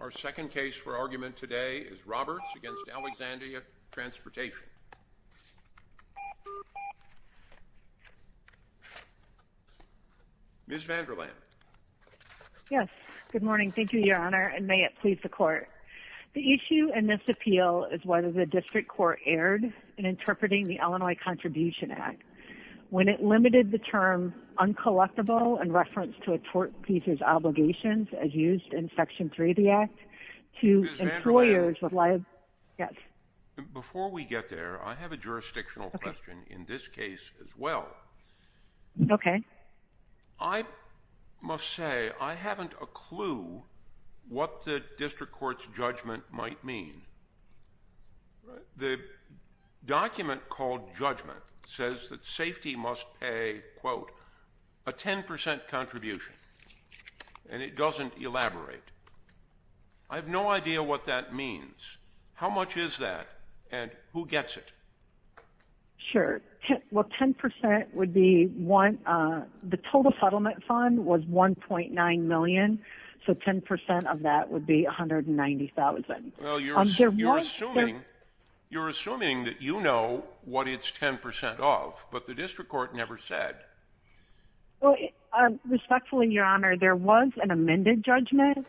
Our second case for argument today is Roberts against Alexandria Transportation. Ms. Vanderland. Yes, good morning. Thank you, Your Honor, and may it please the court. The issue in this appeal is whether the district court erred in interpreting the Illinois Contribution Act when it limited the term uncollectible in reference to a tort piece's obligations as used in Section 3 of the Act to employers with liability. Ms. Vanderland. Yes. Before we get there, I have a jurisdictional question in this case as well. Okay. I must say I haven't a clue what the district court's judgment might mean. The document called judgment says that safety must pay, quote, a 10% contribution, and it doesn't elaborate. I have no idea what that means. How much is that, and who gets it? Sure. Well, 10% would be one. The total settlement fund was $1.9 million, so 10% of that would be $190,000. Well, you're assuming that you know what it's 10% of, but the district court never said. Well, respectfully, Your Honor, there was an amended judgment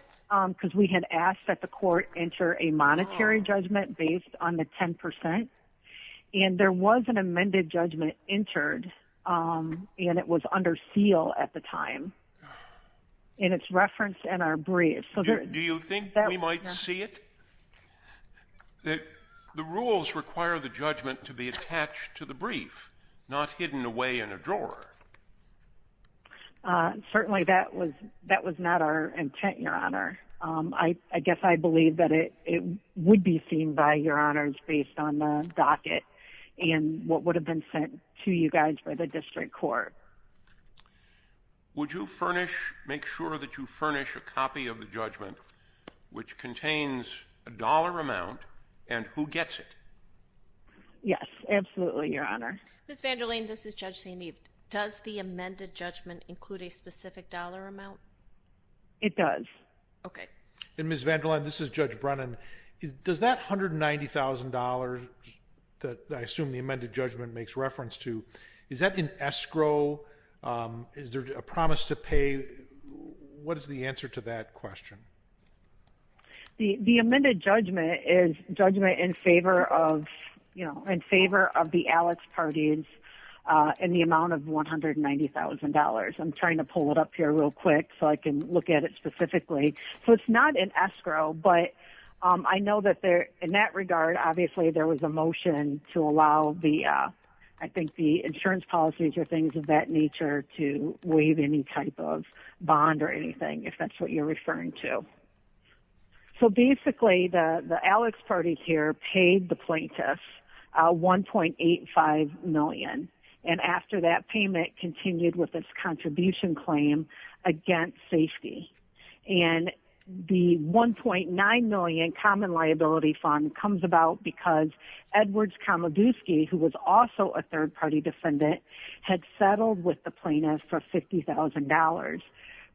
because we had asked that the court enter a monetary judgment based on the 10%, and there was an amended judgment entered, and it was under seal at the time, and it's referenced in our brief. Do you think we might see it? The rules require the judgment to be attached to the brief, not hidden away in a drawer. Certainly that was not our intent, Your Honor. I guess I believe that it would be seen by Your Honors based on the docket and what would have been sent to you guys by the district court. Would you furnish, make sure that you furnish a copy of the judgment, which contains a dollar amount, and who gets it? Yes, absolutely, Your Honor. Ms. VanderLane, this is Judge St. Eve. Does the amended judgment include a specific dollar amount? It does. Okay. Ms. VanderLane, this is Judge Brennan. Does that $190,000 that I assume the amended judgment makes reference to, is that in escrow? Is there a promise to pay? What is the answer to that question? The amended judgment is judgment in favor of, you know, in favor of the Alex parties in the amount of $190,000. I'm trying to pull it up here real quick so I can look at it specifically. So it's not in escrow, but I know that in that regard, obviously, there was a motion to allow the, I think, the insurance policies or things of that nature to waive any type of bond or anything, if that's what you're referring to. So basically, the Alex parties here paid the plaintiffs $1.85 million, and after that payment, continued with its contribution claim against safety. And the $1.9 million common liability fund comes about because Edwards Komoduski, who was also a third-party defendant, had settled with the plaintiffs for $50,000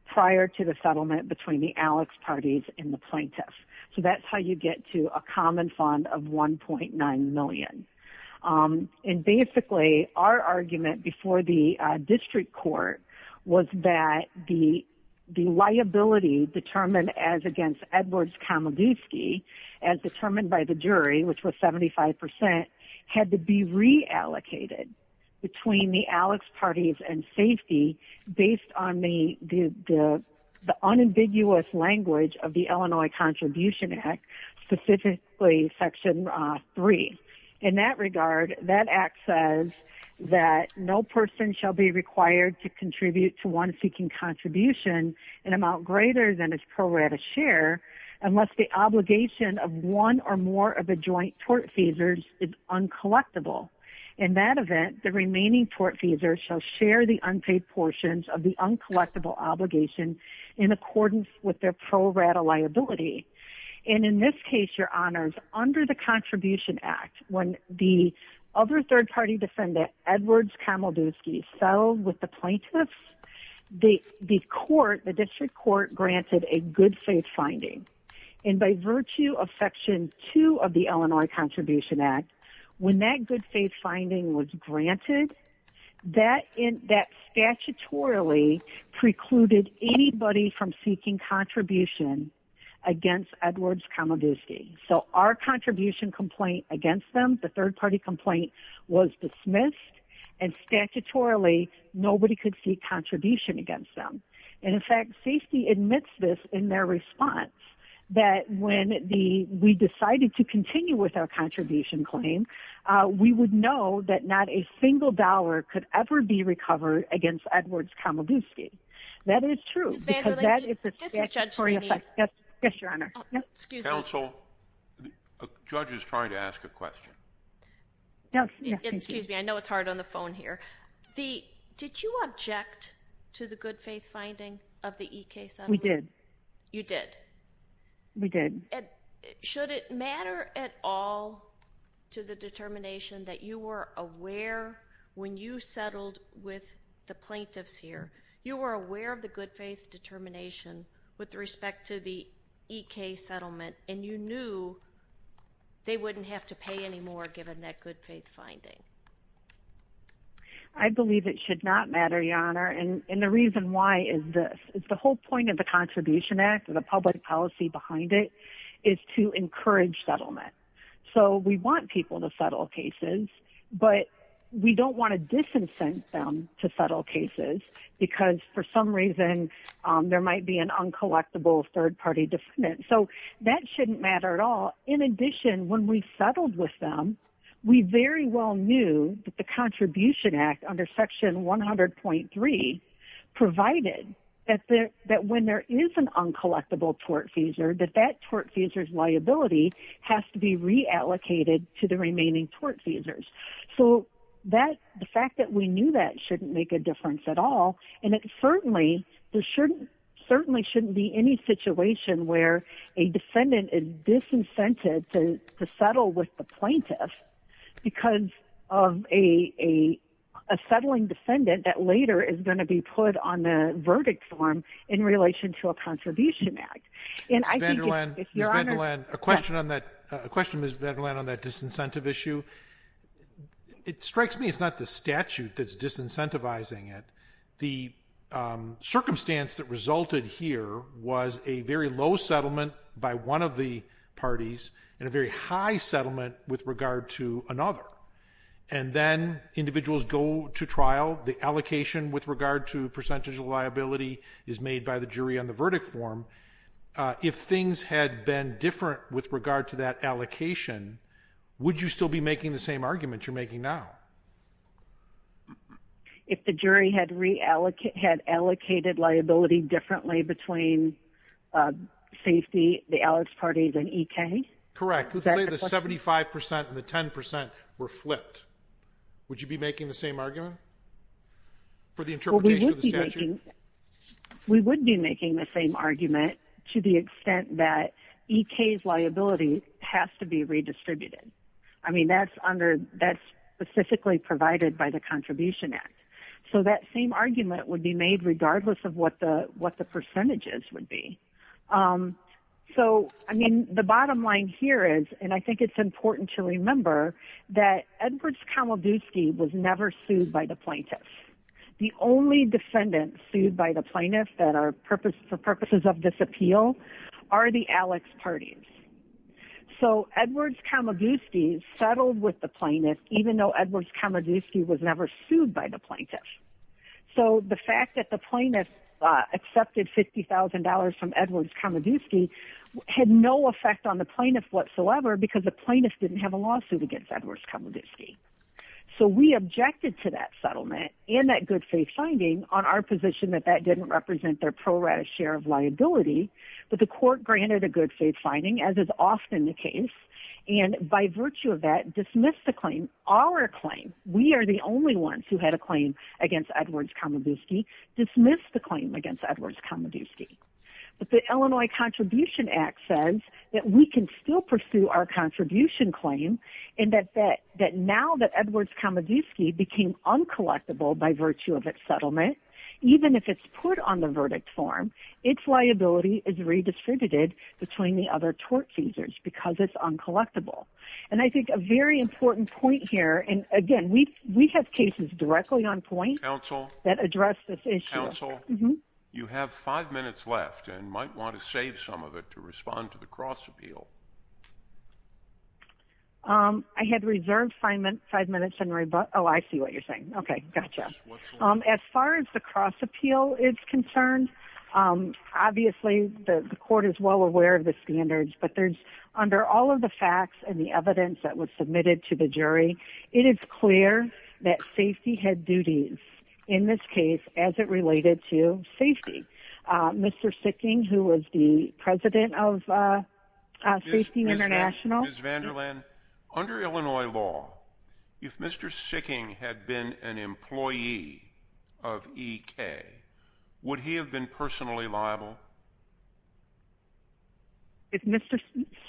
prior to the settlement between the Alex parties and the plaintiffs. So that's how you get to a common fund of $1.9 million. And basically, our argument before the district court was that the liability determined as against Edwards Komoduski, as determined by the jury, which was 75%, had to be reallocated between the Alex parties and safety based on the unambiguous language of the Illinois Contribution Act, specifically Section 3. In that regard, that act says that no person shall be required to contribute to one seeking contribution an amount greater than its pro rata share unless the obligation of one or more of the joint tort feasors is uncollectible. In that event, the remaining tort feasors shall share the unpaid portions of the uncollectible obligation in accordance with their pro rata liability. And in this case, Your Honors, under the Contribution Act, when the other third-party defendant, Edwards Komoduski, settled with the plaintiffs, the district court granted a good faith finding. And by virtue of Section 2 of the Illinois Contribution Act, when that good faith finding was granted, that statutorily precluded anybody from seeking contribution against Edwards Komoduski. So our contribution complaint against them, the third-party complaint, was dismissed, and statutorily, nobody could seek contribution against them. And in fact, safety admits this in their response, that when we decided to continue with our contribution claim, we would know that not a single dollar could ever be recovered against Edwards Komoduski. That is true, because that is the statutory effect. Yes, Your Honor. Excuse me. Counsel, the judge is trying to ask a question. Excuse me. I know it's hard on the phone here. Did you object to the good faith finding of the EK settlement? We did. You did? We did. Should it matter at all to the determination that you were aware when you settled with the plaintiffs here, you were aware of the good faith determination with respect to the EK settlement, and you knew they wouldn't have to pay any more given that good faith finding? I believe it should not matter, Your Honor. And the reason why is this. It's the whole point of the Contribution Act and the public policy behind it is to encourage settlement. So we want people to settle cases, but we don't want to disincent them to settle cases because for some reason there might be an uncollectible third-party defendant. So that shouldn't matter at all. In addition, when we settled with them, we very well knew that the Contribution Act under Section 100.3 provided that when there is an uncollectible tortfeasor, that that tortfeasor's liability has to be reallocated to the remaining tortfeasors. So the fact that we knew that shouldn't make a difference at all, and it certainly shouldn't be any situation where a defendant is disincented to settle with the plaintiffs because of a settling defendant that later is going to be put on the verdict form in relation to a Contribution Act. Ms. Vanderland, a question on that disincentive issue. It strikes me it's not the statute that's disincentivizing it. The circumstance that resulted here was a very low settlement by one of the parties and a very high settlement with regard to another. And then individuals go to trial. The allocation with regard to percentage of liability is made by the jury on the verdict form. If things had been different with regard to that allocation, would you still be making the same argument you're making now? If the jury had reallocated, had allocated liability differently between safety, the Alex party and EK? Correct. Let's say the 75% and the 10% were flipped. Would you be making the same argument for the interpretation of the statute? We would be making the same argument to the extent that EK's liability has to be redistributed. I mean, that's specifically provided by the Contribution Act. So that same argument would be made regardless of what the percentages would be. So, I mean, the bottom line here is, and I think it's important to remember, that Edwards-Kamoguski was never sued by the plaintiffs. The only defendants sued by the plaintiffs that are for purposes of this appeal are the Alex parties. So Edwards-Kamoguski settled with the plaintiff even though Edwards-Kamoguski was never sued by the plaintiff. So the fact that the plaintiff accepted $50,000 from Edwards-Kamoguski had no effect on the plaintiff whatsoever because the plaintiff didn't have a lawsuit against Edwards-Kamoguski. So we objected to that settlement and that good faith finding on our position that that didn't represent their pro rata share of liability. But the court granted a good faith finding, as is often the case, and by virtue of that dismissed the claim. Our claim, we are the only ones who had a claim against Edwards-Kamoguski, dismissed the claim against Edwards-Kamoguski. But the Illinois Contribution Act says that we can still pursue our contribution claim and that now that Edwards-Kamoguski became uncollectible by virtue of its settlement, even if it's put on the verdict form, its liability is redistributed between the other tort users because it's uncollectible. And I think a very important point here, and again, we have cases directly on point that address this issue. Counsel, you have five minutes left and might want to save some of it to respond to the cross appeal. I had reserved five minutes and rebut. Oh, I see what you're saying. Okay, gotcha. As far as the cross appeal is concerned, obviously the court is well aware of the standards, but under all of the facts and the evidence that was submitted to the jury, it is clear that safety had duties in this case as it related to safety. Mr. Sicking, who was the president of Safety International. Ms. Vanderland, under Illinois law, if Mr. Sicking had been an employee of EK, would he have been personally liable?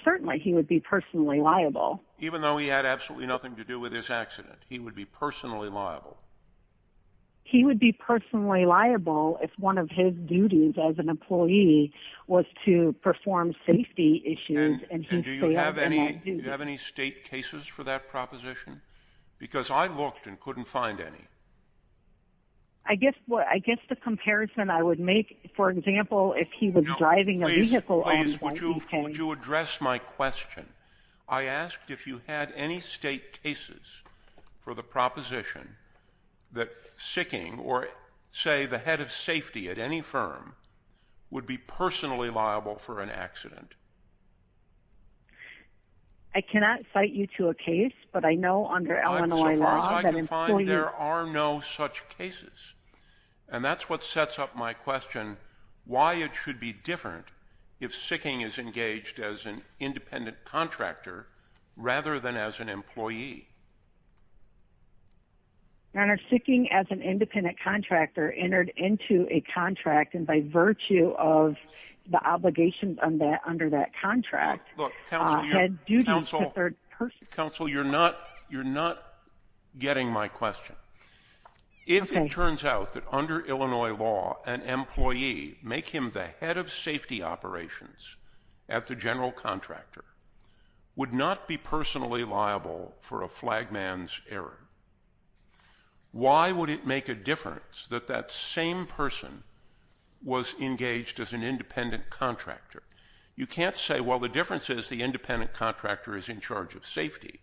Certainly he would be personally liable. Even though he had absolutely nothing to do with this accident, he would be personally liable? He would be personally liable if one of his duties as an employee was to perform safety issues. And do you have any state cases for that proposition? Because I looked and couldn't find any. I guess the comparison I would make, for example, if he was driving a vehicle. No, please, would you address my question? I asked if you had any state cases for the proposition that Sicking, or say the head of safety at any firm, would be personally liable for an accident. I cannot cite you to a case, but I know under Illinois law that employees... As far as I can find, there are no such cases. And that's what sets up my question, why it should be different if Sicking is engaged as an independent contractor rather than as an employee. Your Honor, Sicking as an independent contractor entered into a contract and by virtue of the obligations under that contract... Counsel, you're not getting my question. If it turns out that under Illinois law, an employee, make him the head of safety operations at the general contractor, would not be personally liable for a flag man's error. Why would it make a difference that that same person was engaged as an independent contractor? You can't say, well, the difference is the independent contractor is in charge of safety,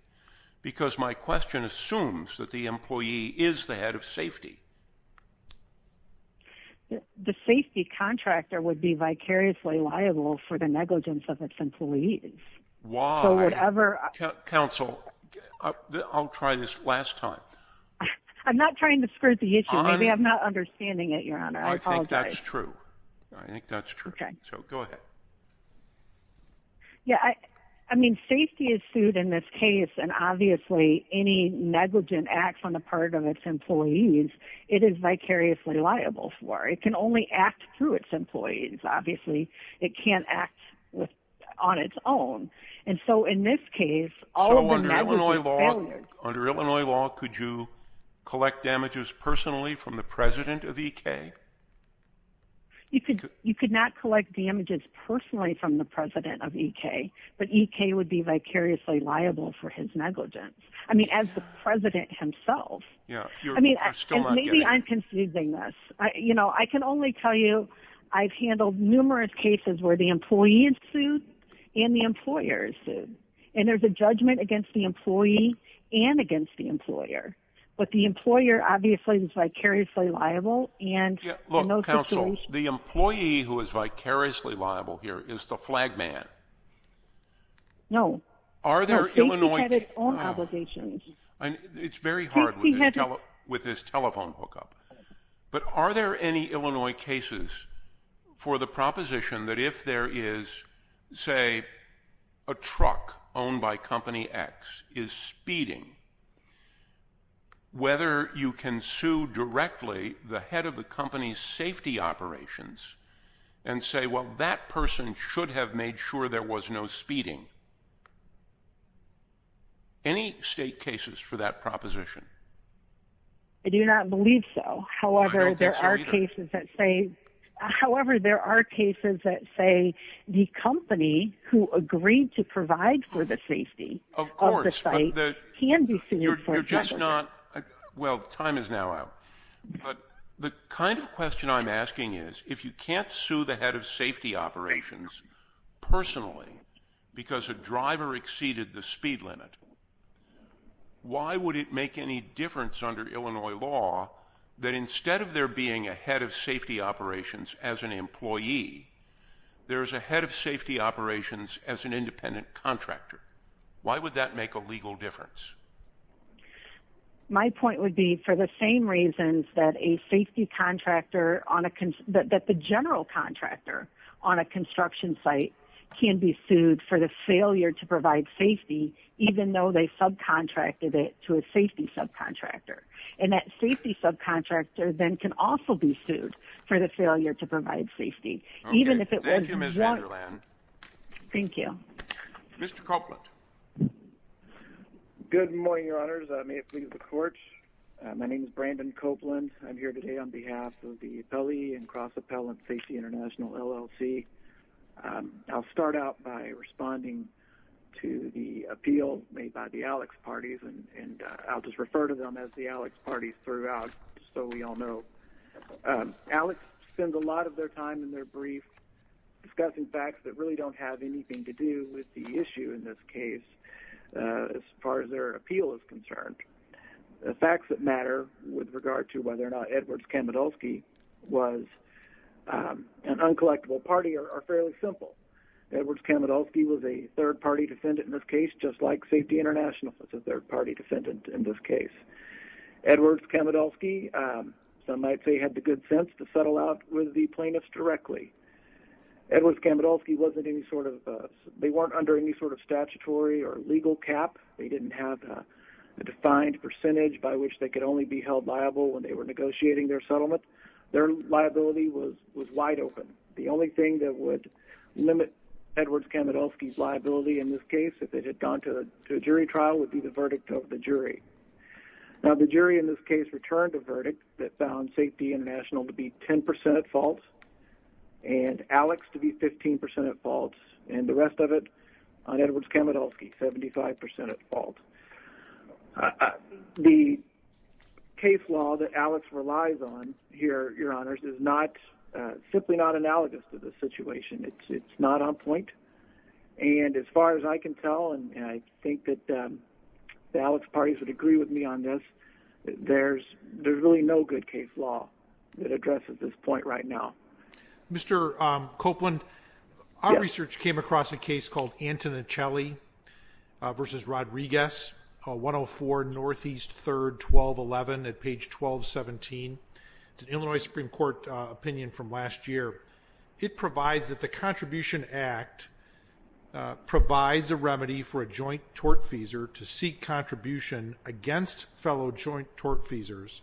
because my question assumes that the employee is the head of safety. The safety contractor would be vicariously liable for the negligence of its employees. Why? So whatever... Counsel, I'll try this last time. I'm not trying to skirt the issue. Maybe I'm not understanding it, Your Honor. I think that's true. I think that's true. Okay. So go ahead. Yeah, I mean, safety is sued in this case, and obviously any negligent acts on the part of its employees, it is vicariously liable for. It can only act through its employees. Obviously, it can't act on its own. And so in this case, all of the negligent failures... So under Illinois law, could you collect damages personally from the president of EK? You could not collect damages personally from the president of EK, but EK would be vicariously liable for his negligence. I mean, as the president himself. Yeah. I mean, and maybe I'm confusing this. You know, I can only tell you I've handled numerous cases where the employee is sued and the employer is sued. And there's a judgment against the employee and against the employer. But the employer obviously is vicariously liable, and in those situations... Yeah, look, counsel, the employee who is vicariously liable here is the flag man. No. Are there Illinois... No, safety had its own obligations. It's very hard with this telephone hookup. But are there any Illinois cases for the proposition that if there is, say, a truck owned by Company X is speeding, whether you can sue directly the head of the company's safety operations and say, well, that person should have made sure there was no speeding? Any state cases for that proposition? I do not believe so. I don't think so either. However, there are cases that say the company who agreed to provide for the safety of the site can be sued for negligence. Well, time is now out. But the kind of question I'm asking is if you can't sue the head of safety operations personally because a driver exceeded the speed limit, why would it make any difference under Illinois law that instead of there being a head of safety operations as an employee, there is a head of safety operations as an independent contractor? Why would that make a legal difference? My point would be for the same reasons that a safety contractor on a... to provide safety, even though they subcontracted it to a safety subcontractor. And that safety subcontractor then can also be sued for the failure to provide safety, even if it wasn't... Thank you, Ms. Vanderland. Thank you. Mr. Copeland. Good morning, Your Honors. May it please the Court. My name is Brandon Copeland. I'm here today on behalf of the Appellee and Cross-Appellant Safety International, LLC. I'll start out by responding to the appeal made by the Alex parties, and I'll just refer to them as the Alex parties throughout so we all know. Alex spends a lot of their time in their brief discussing facts that really don't have anything to do with the issue in this case as far as their appeal is concerned. The facts that matter with regard to whether or not Edwards-Kamidulski was an uncollectible party are fairly simple. Edwards-Kamidulski was a third-party defendant in this case, just like Safety International was a third-party defendant in this case. Edwards-Kamidulski, some might say, had the good sense to settle out with the plaintiffs directly. Edwards-Kamidulski wasn't any sort of a... They weren't under any sort of statutory or legal cap. They didn't have a defined percentage by which they could only be held liable when they were negotiating their settlement. Their liability was wide open. The only thing that would limit Edwards-Kamidulski's liability in this case if it had gone to a jury trial would be the verdict of the jury. Now, the jury in this case returned a verdict that found Safety International to be 10% at fault and Alex to be 15% at fault, and the rest of it on Edwards-Kamidulski, 75% at fault. The case law that Alex relies on here, Your Honors, is simply not analogous to this situation. It's not on point. And as far as I can tell, and I think that the Alex parties would agree with me on this, there's really no good case law that addresses this point right now. Mr. Copeland, our research came across a case called Antonincelli v. Rodriguez, 104 Northeast 3rd, 1211 at page 1217. It's an Illinois Supreme Court opinion from last year. It provides that the Contribution Act provides a remedy for a joint tortfeasor to seek contribution against fellow joint tortfeasors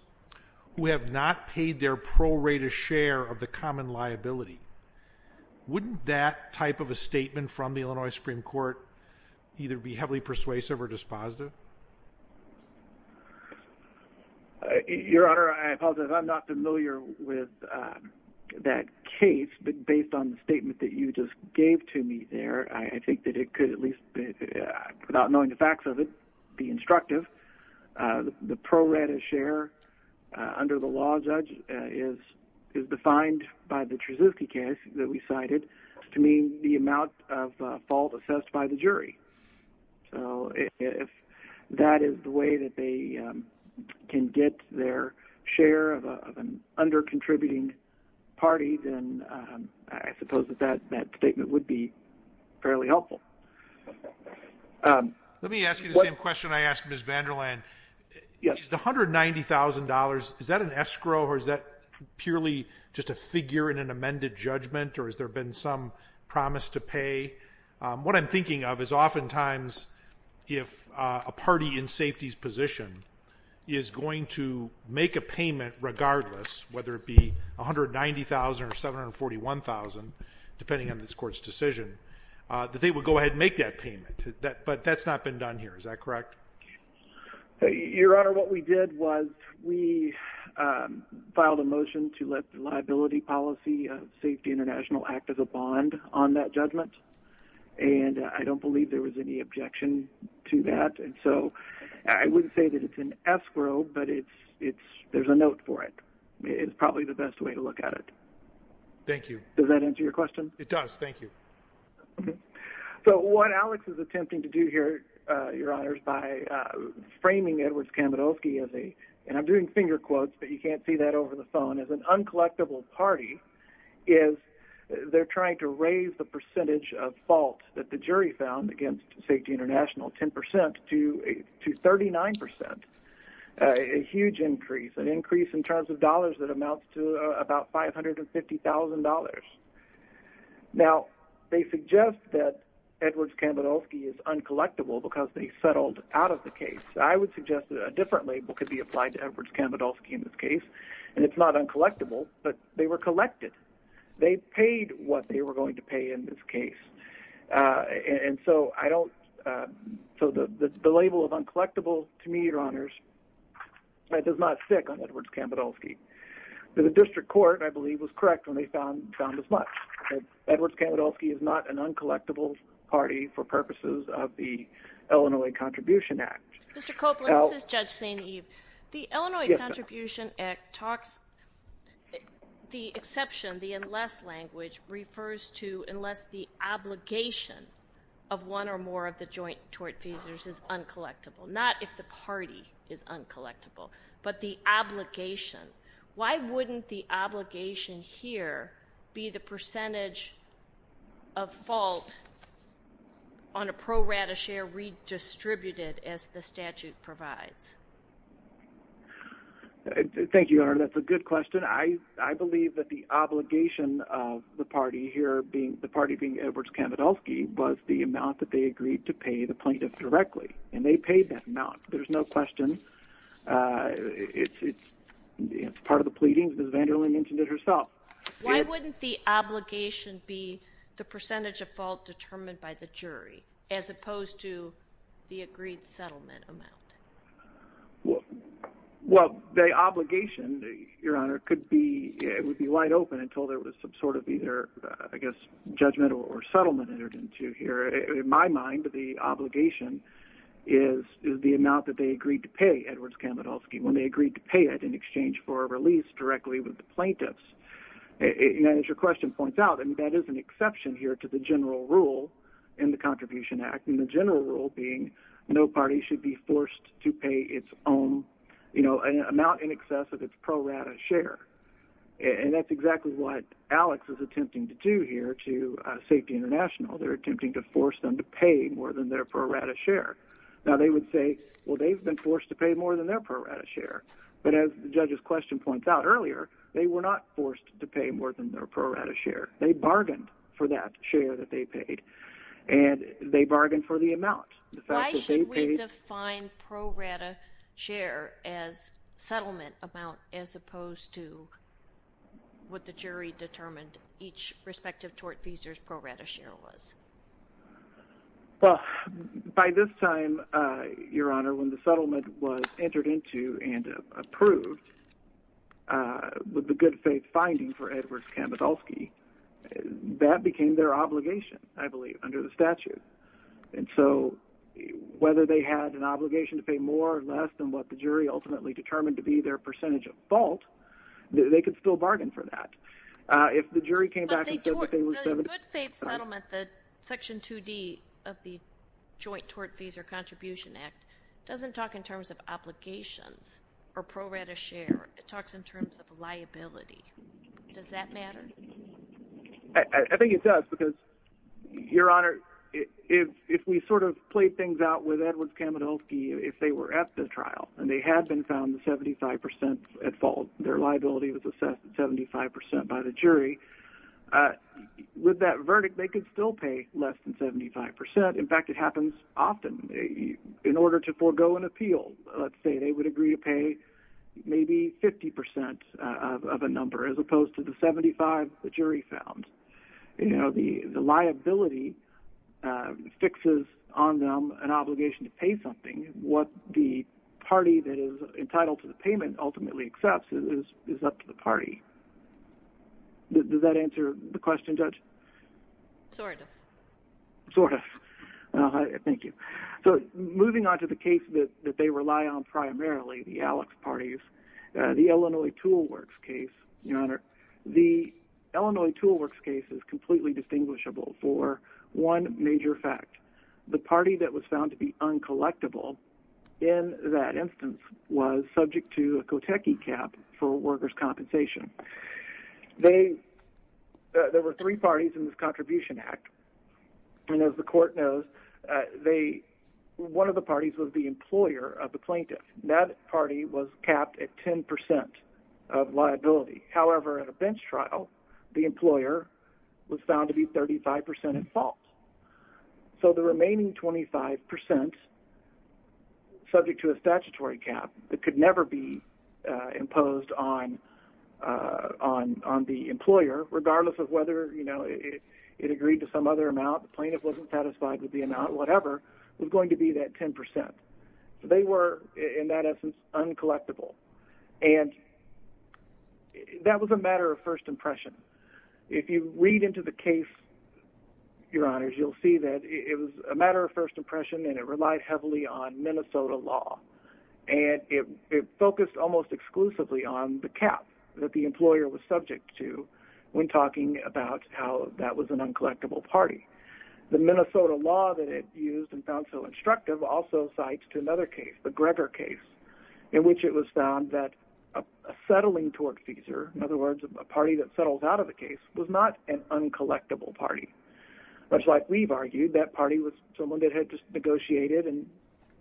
who have not paid their pro rata share of the common liability. Wouldn't that type of a statement from the Illinois Supreme Court either be heavily persuasive or dispositive? Your Honor, I apologize. I'm not familiar with that case, but based on the statement that you just gave to me there, I think that it could at least, without knowing the facts of it, be instructive. The pro rata share under the law, Judge, is defined by the Treziski case that we cited to mean the amount of fault assessed by the jury. So if that is the way that they can get their share of an under-contributing party, then I suppose that that statement would be fairly helpful. Let me ask you the same question I asked Ms. Vanderland. Is the $190,000, is that an escrow or is that purely just a figure in an amended judgment or has there been some promise to pay? What I'm thinking of is oftentimes if a party in safety's position is going to make a payment regardless, whether it be $190,000 or $741,000, depending on this court's decision, that they would go ahead and make that payment. But that's not been done here, is that correct? Your Honor, what we did was we filed a motion to let the Liability Policy of Safety International act as a bond on that judgment. And I don't believe there was any objection to that. And so I wouldn't say that it's an escrow, but there's a note for it. It's probably the best way to look at it. Thank you. Does that answer your question? It does. Thank you. So what Alex is attempting to do here, Your Honors, by framing Edwards Kamenowski as a, and I'm doing finger quotes but you can't see that over the phone, as an uncollectible party, is they're trying to raise the percentage of fault that the jury found against Safety International, 10%, to 39%. A huge increase, an increase in terms of dollars that amounts to about $550,000. Now, they suggest that Edwards Kamenowski is uncollectible because they settled out of the case. I would suggest that a different label could be applied to Edwards Kamenowski in this case. And it's not uncollectible, but they were collected. They paid what they were going to pay in this case. And so I don't, so the label of uncollectible, to me, Your Honors, that does not stick on Edwards Kamenowski. The district court, I believe, was correct when they found as much. Edwards Kamenowski is not an uncollectible party for purposes of the Illinois Contribution Act. Mr. Copeland, this is Judge St. Eve. The Illinois Contribution Act talks, the exception, the unless language, refers to unless the obligation of one or more of the joint tort feasors is uncollectible. Not if the party is uncollectible, but the obligation. Why wouldn't the obligation here be the percentage of fault on a pro rata share redistributed as the statute provides? Thank you, Your Honor. That's a good question. I believe that the obligation of the party here being, the party being Edwards Kamenowski, was the amount that they agreed to pay the plaintiff directly. And they paid that amount. There's no question. It's part of the pleadings, as Vanderling mentioned it herself. Why wouldn't the obligation be the percentage of fault determined by the jury as opposed to the agreed settlement amount? Well, the obligation, Your Honor, could be, it would be wide open until there was some sort of either, I guess, judgment or settlement entered into here. In my mind, the obligation is the amount that they agreed to pay Edwards Kamenowski when they agreed to pay it in exchange for a release directly with the plaintiffs. And as your question points out, that is an exception here to the general rule in the Contribution Act. And the general rule being no party should be forced to pay its own amount in excess of its pro rata share. And that's exactly what Alex is attempting to do here to Safety International. They're attempting to force them to pay more than their pro rata share. Now, they would say, well, they've been forced to pay more than their pro rata share. But as the judge's question points out earlier, they were not forced to pay more than their pro rata share. They bargained for that share that they paid, and they bargained for the amount. Why should we define pro rata share as settlement amount as opposed to what the jury determined each respective tort feasor's pro rata share was? Well, by this time, your honor, when the settlement was entered into and approved with the good faith finding for Edwards Kamenowski, that became their obligation, I believe, under the statute. And so whether they had an obligation to pay more or less than what the jury ultimately determined to be their percentage of fault, they could still bargain for that. But the good faith settlement, the Section 2D of the Joint Tort Feasor Contribution Act, doesn't talk in terms of obligations or pro rata share. It talks in terms of liability. Does that matter? I think it does because, your honor, if we sort of played things out with Edwards Kamenowski, if they were at the trial and they had been found 75% at fault, their liability was assessed at 75% by the jury, with that verdict, they could still pay less than 75%. In fact, it happens often. In order to forego an appeal, let's say they would agree to pay maybe 50% of a number as opposed to the 75 the jury found. The liability fixes on them an obligation to pay something. What the party that is entitled to the payment ultimately accepts is up to the party. Does that answer the question, Judge? Sort of. Sort of. Thank you. So moving on to the case that they rely on primarily, the Alex parties, the Illinois Tool Works case, your honor. The Illinois Tool Works case is completely distinguishable for one major fact. The party that was found to be uncollectible in that instance was subject to a Kotecki cap for workers' compensation. There were three parties in this contribution act, and as the court knows, one of the parties was the employer of the plaintiff. That party was capped at 10% of liability. However, at a bench trial, the employer was found to be 35% at fault. So the remaining 25%, subject to a statutory cap that could never be imposed on the employer, regardless of whether it agreed to some other amount, the plaintiff wasn't satisfied with the amount, whatever, was going to be that 10%. They were, in that essence, uncollectible. And that was a matter of first impression. If you read into the case, your honors, you'll see that it was a matter of first impression, and it relied heavily on Minnesota law. And it focused almost exclusively on the cap that the employer was subject to when talking about how that was an uncollectible party. The Minnesota law that it used and found so instructive also cites to another case, the Greger case, in which it was found that a settling tortfeasor, in other words, a party that settles out of the case, was not an uncollectible party. Much like we've argued, that party was someone that had just negotiated and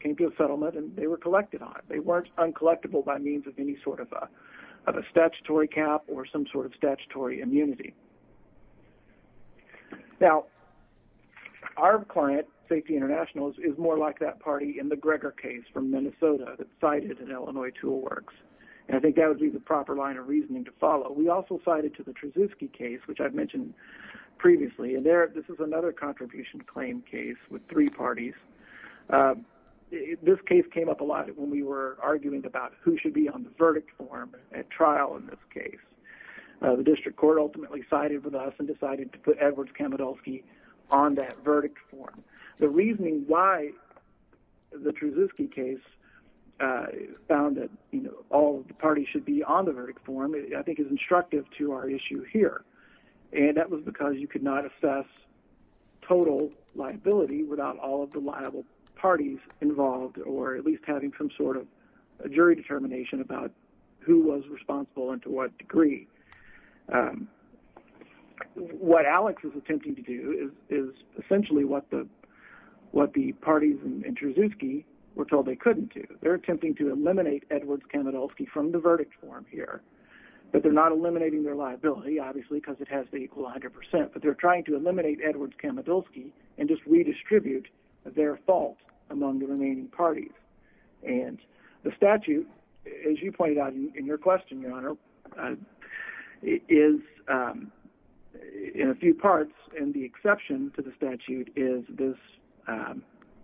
came to a settlement, and they were collected on it. They weren't uncollectible by means of any sort of a statutory cap or some sort of statutory immunity. Now, our client, Safety International, is more like that party in the Greger case from Minnesota that's cited in Illinois Tool Works. And I think that would be the proper line of reasoning to follow. We also cited to the Truszewski case, which I've mentioned previously, and this is another contribution claim case with three parties. This case came up a lot when we were arguing about who should be on the verdict form at trial in this case. The district court ultimately sided with us and decided to put Edward Kamidulski on that verdict form. The reasoning why the Truszewski case found that all of the parties should be on the verdict form I think is instructive to our issue here. And that was because you could not assess total liability without all of the liable parties involved or at least having some sort of jury determination about who was responsible and to what degree. What Alex is attempting to do is essentially what the parties in Truszewski were told they couldn't do. They're attempting to eliminate Edward Kamidulski from the verdict form here. But they're not eliminating their liability, obviously, because it has to equal 100 percent. But they're trying to eliminate Edward Kamidulski and just redistribute their fault among the remaining parties. And the statute, as you pointed out in your question, Your Honor, is in a few parts. And the exception to the statute is this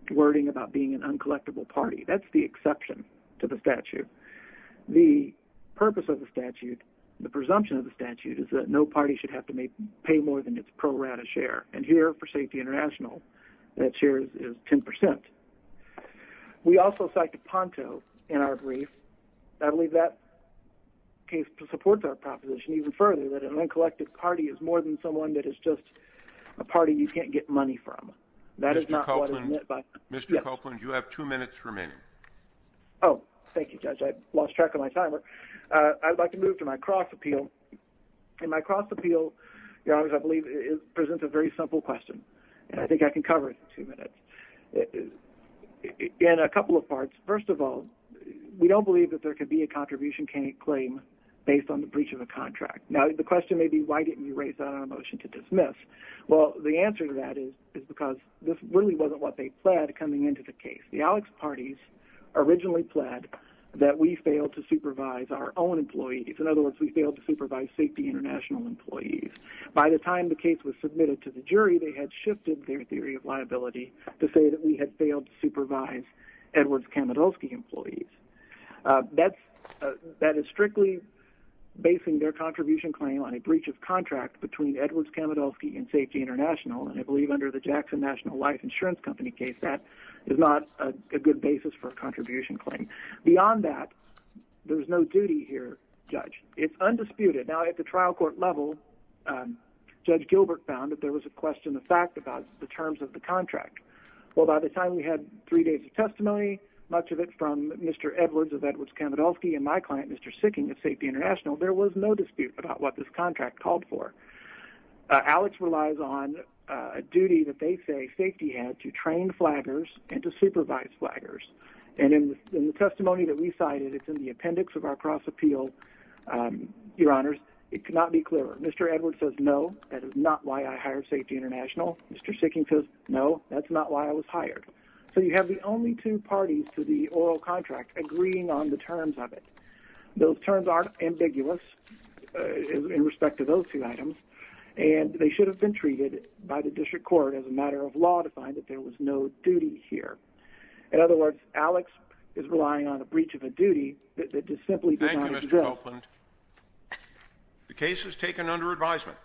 wording about being an uncollectible party. That's the exception to the statute. The purpose of the statute, the presumption of the statute, is that no party should have to pay more than its pro rata share. And here for Safety International, that share is 10 percent. We also cite the Ponto in our brief. I believe that case supports our proposition even further that an uncollected party is more than someone that is just a party you can't get money from. That is not what is meant by… Mr. Copeland, you have two minutes remaining. Oh, thank you, Judge. I lost track of my timer. I'd like to move to my cross appeal. In my cross appeal, Your Honor, I believe it presents a very simple question. And I think I can cover it in two minutes. In a couple of parts, first of all, we don't believe that there could be a contribution claim based on the breach of a contract. Now, the question may be, why didn't you raise that on a motion to dismiss? Well, the answer to that is because this really wasn't what they pled coming into the case. The Alex parties originally pled that we failed to supervise our own employees. In other words, we failed to supervise Safety International employees. By the time the case was submitted to the jury, they had shifted their theory of liability to say that we had failed to supervise Edwards-Kamidolsky employees. That is strictly basing their contribution claim on a breach of contract between Edwards-Kamidolsky and Safety International. And I believe under the Jackson National Life Insurance Company case, that is not a good basis for a contribution claim. Beyond that, there's no duty here, Judge. It's undisputed. Now, at the trial court level, Judge Gilbert found that there was a question of fact about the terms of the contract. Well, by the time we had three days of testimony, much of it from Mr. Edwards of Edwards-Kamidolsky and my client, Mr. Sicking of Safety International, there was no dispute about what this contract called for. Alex relies on a duty that they say Safety had to train flaggers and to supervise flaggers. And in the testimony that we cited, it's in the appendix of our cross-appeal, Your Honors. It cannot be clearer. Mr. Edwards says, no, that is not why I hired Safety International. Mr. Sicking says, no, that's not why I was hired. So you have the only two parties to the oral contract agreeing on the terms of it. Those terms are ambiguous in respect to those two items, and they should have been treated by the district court as a matter of law to find that there was no duty here. In other words, Alex is relying on a breach of a duty that simply does not exist. Thank you, Mr. Copeland. The case is taken under advisement.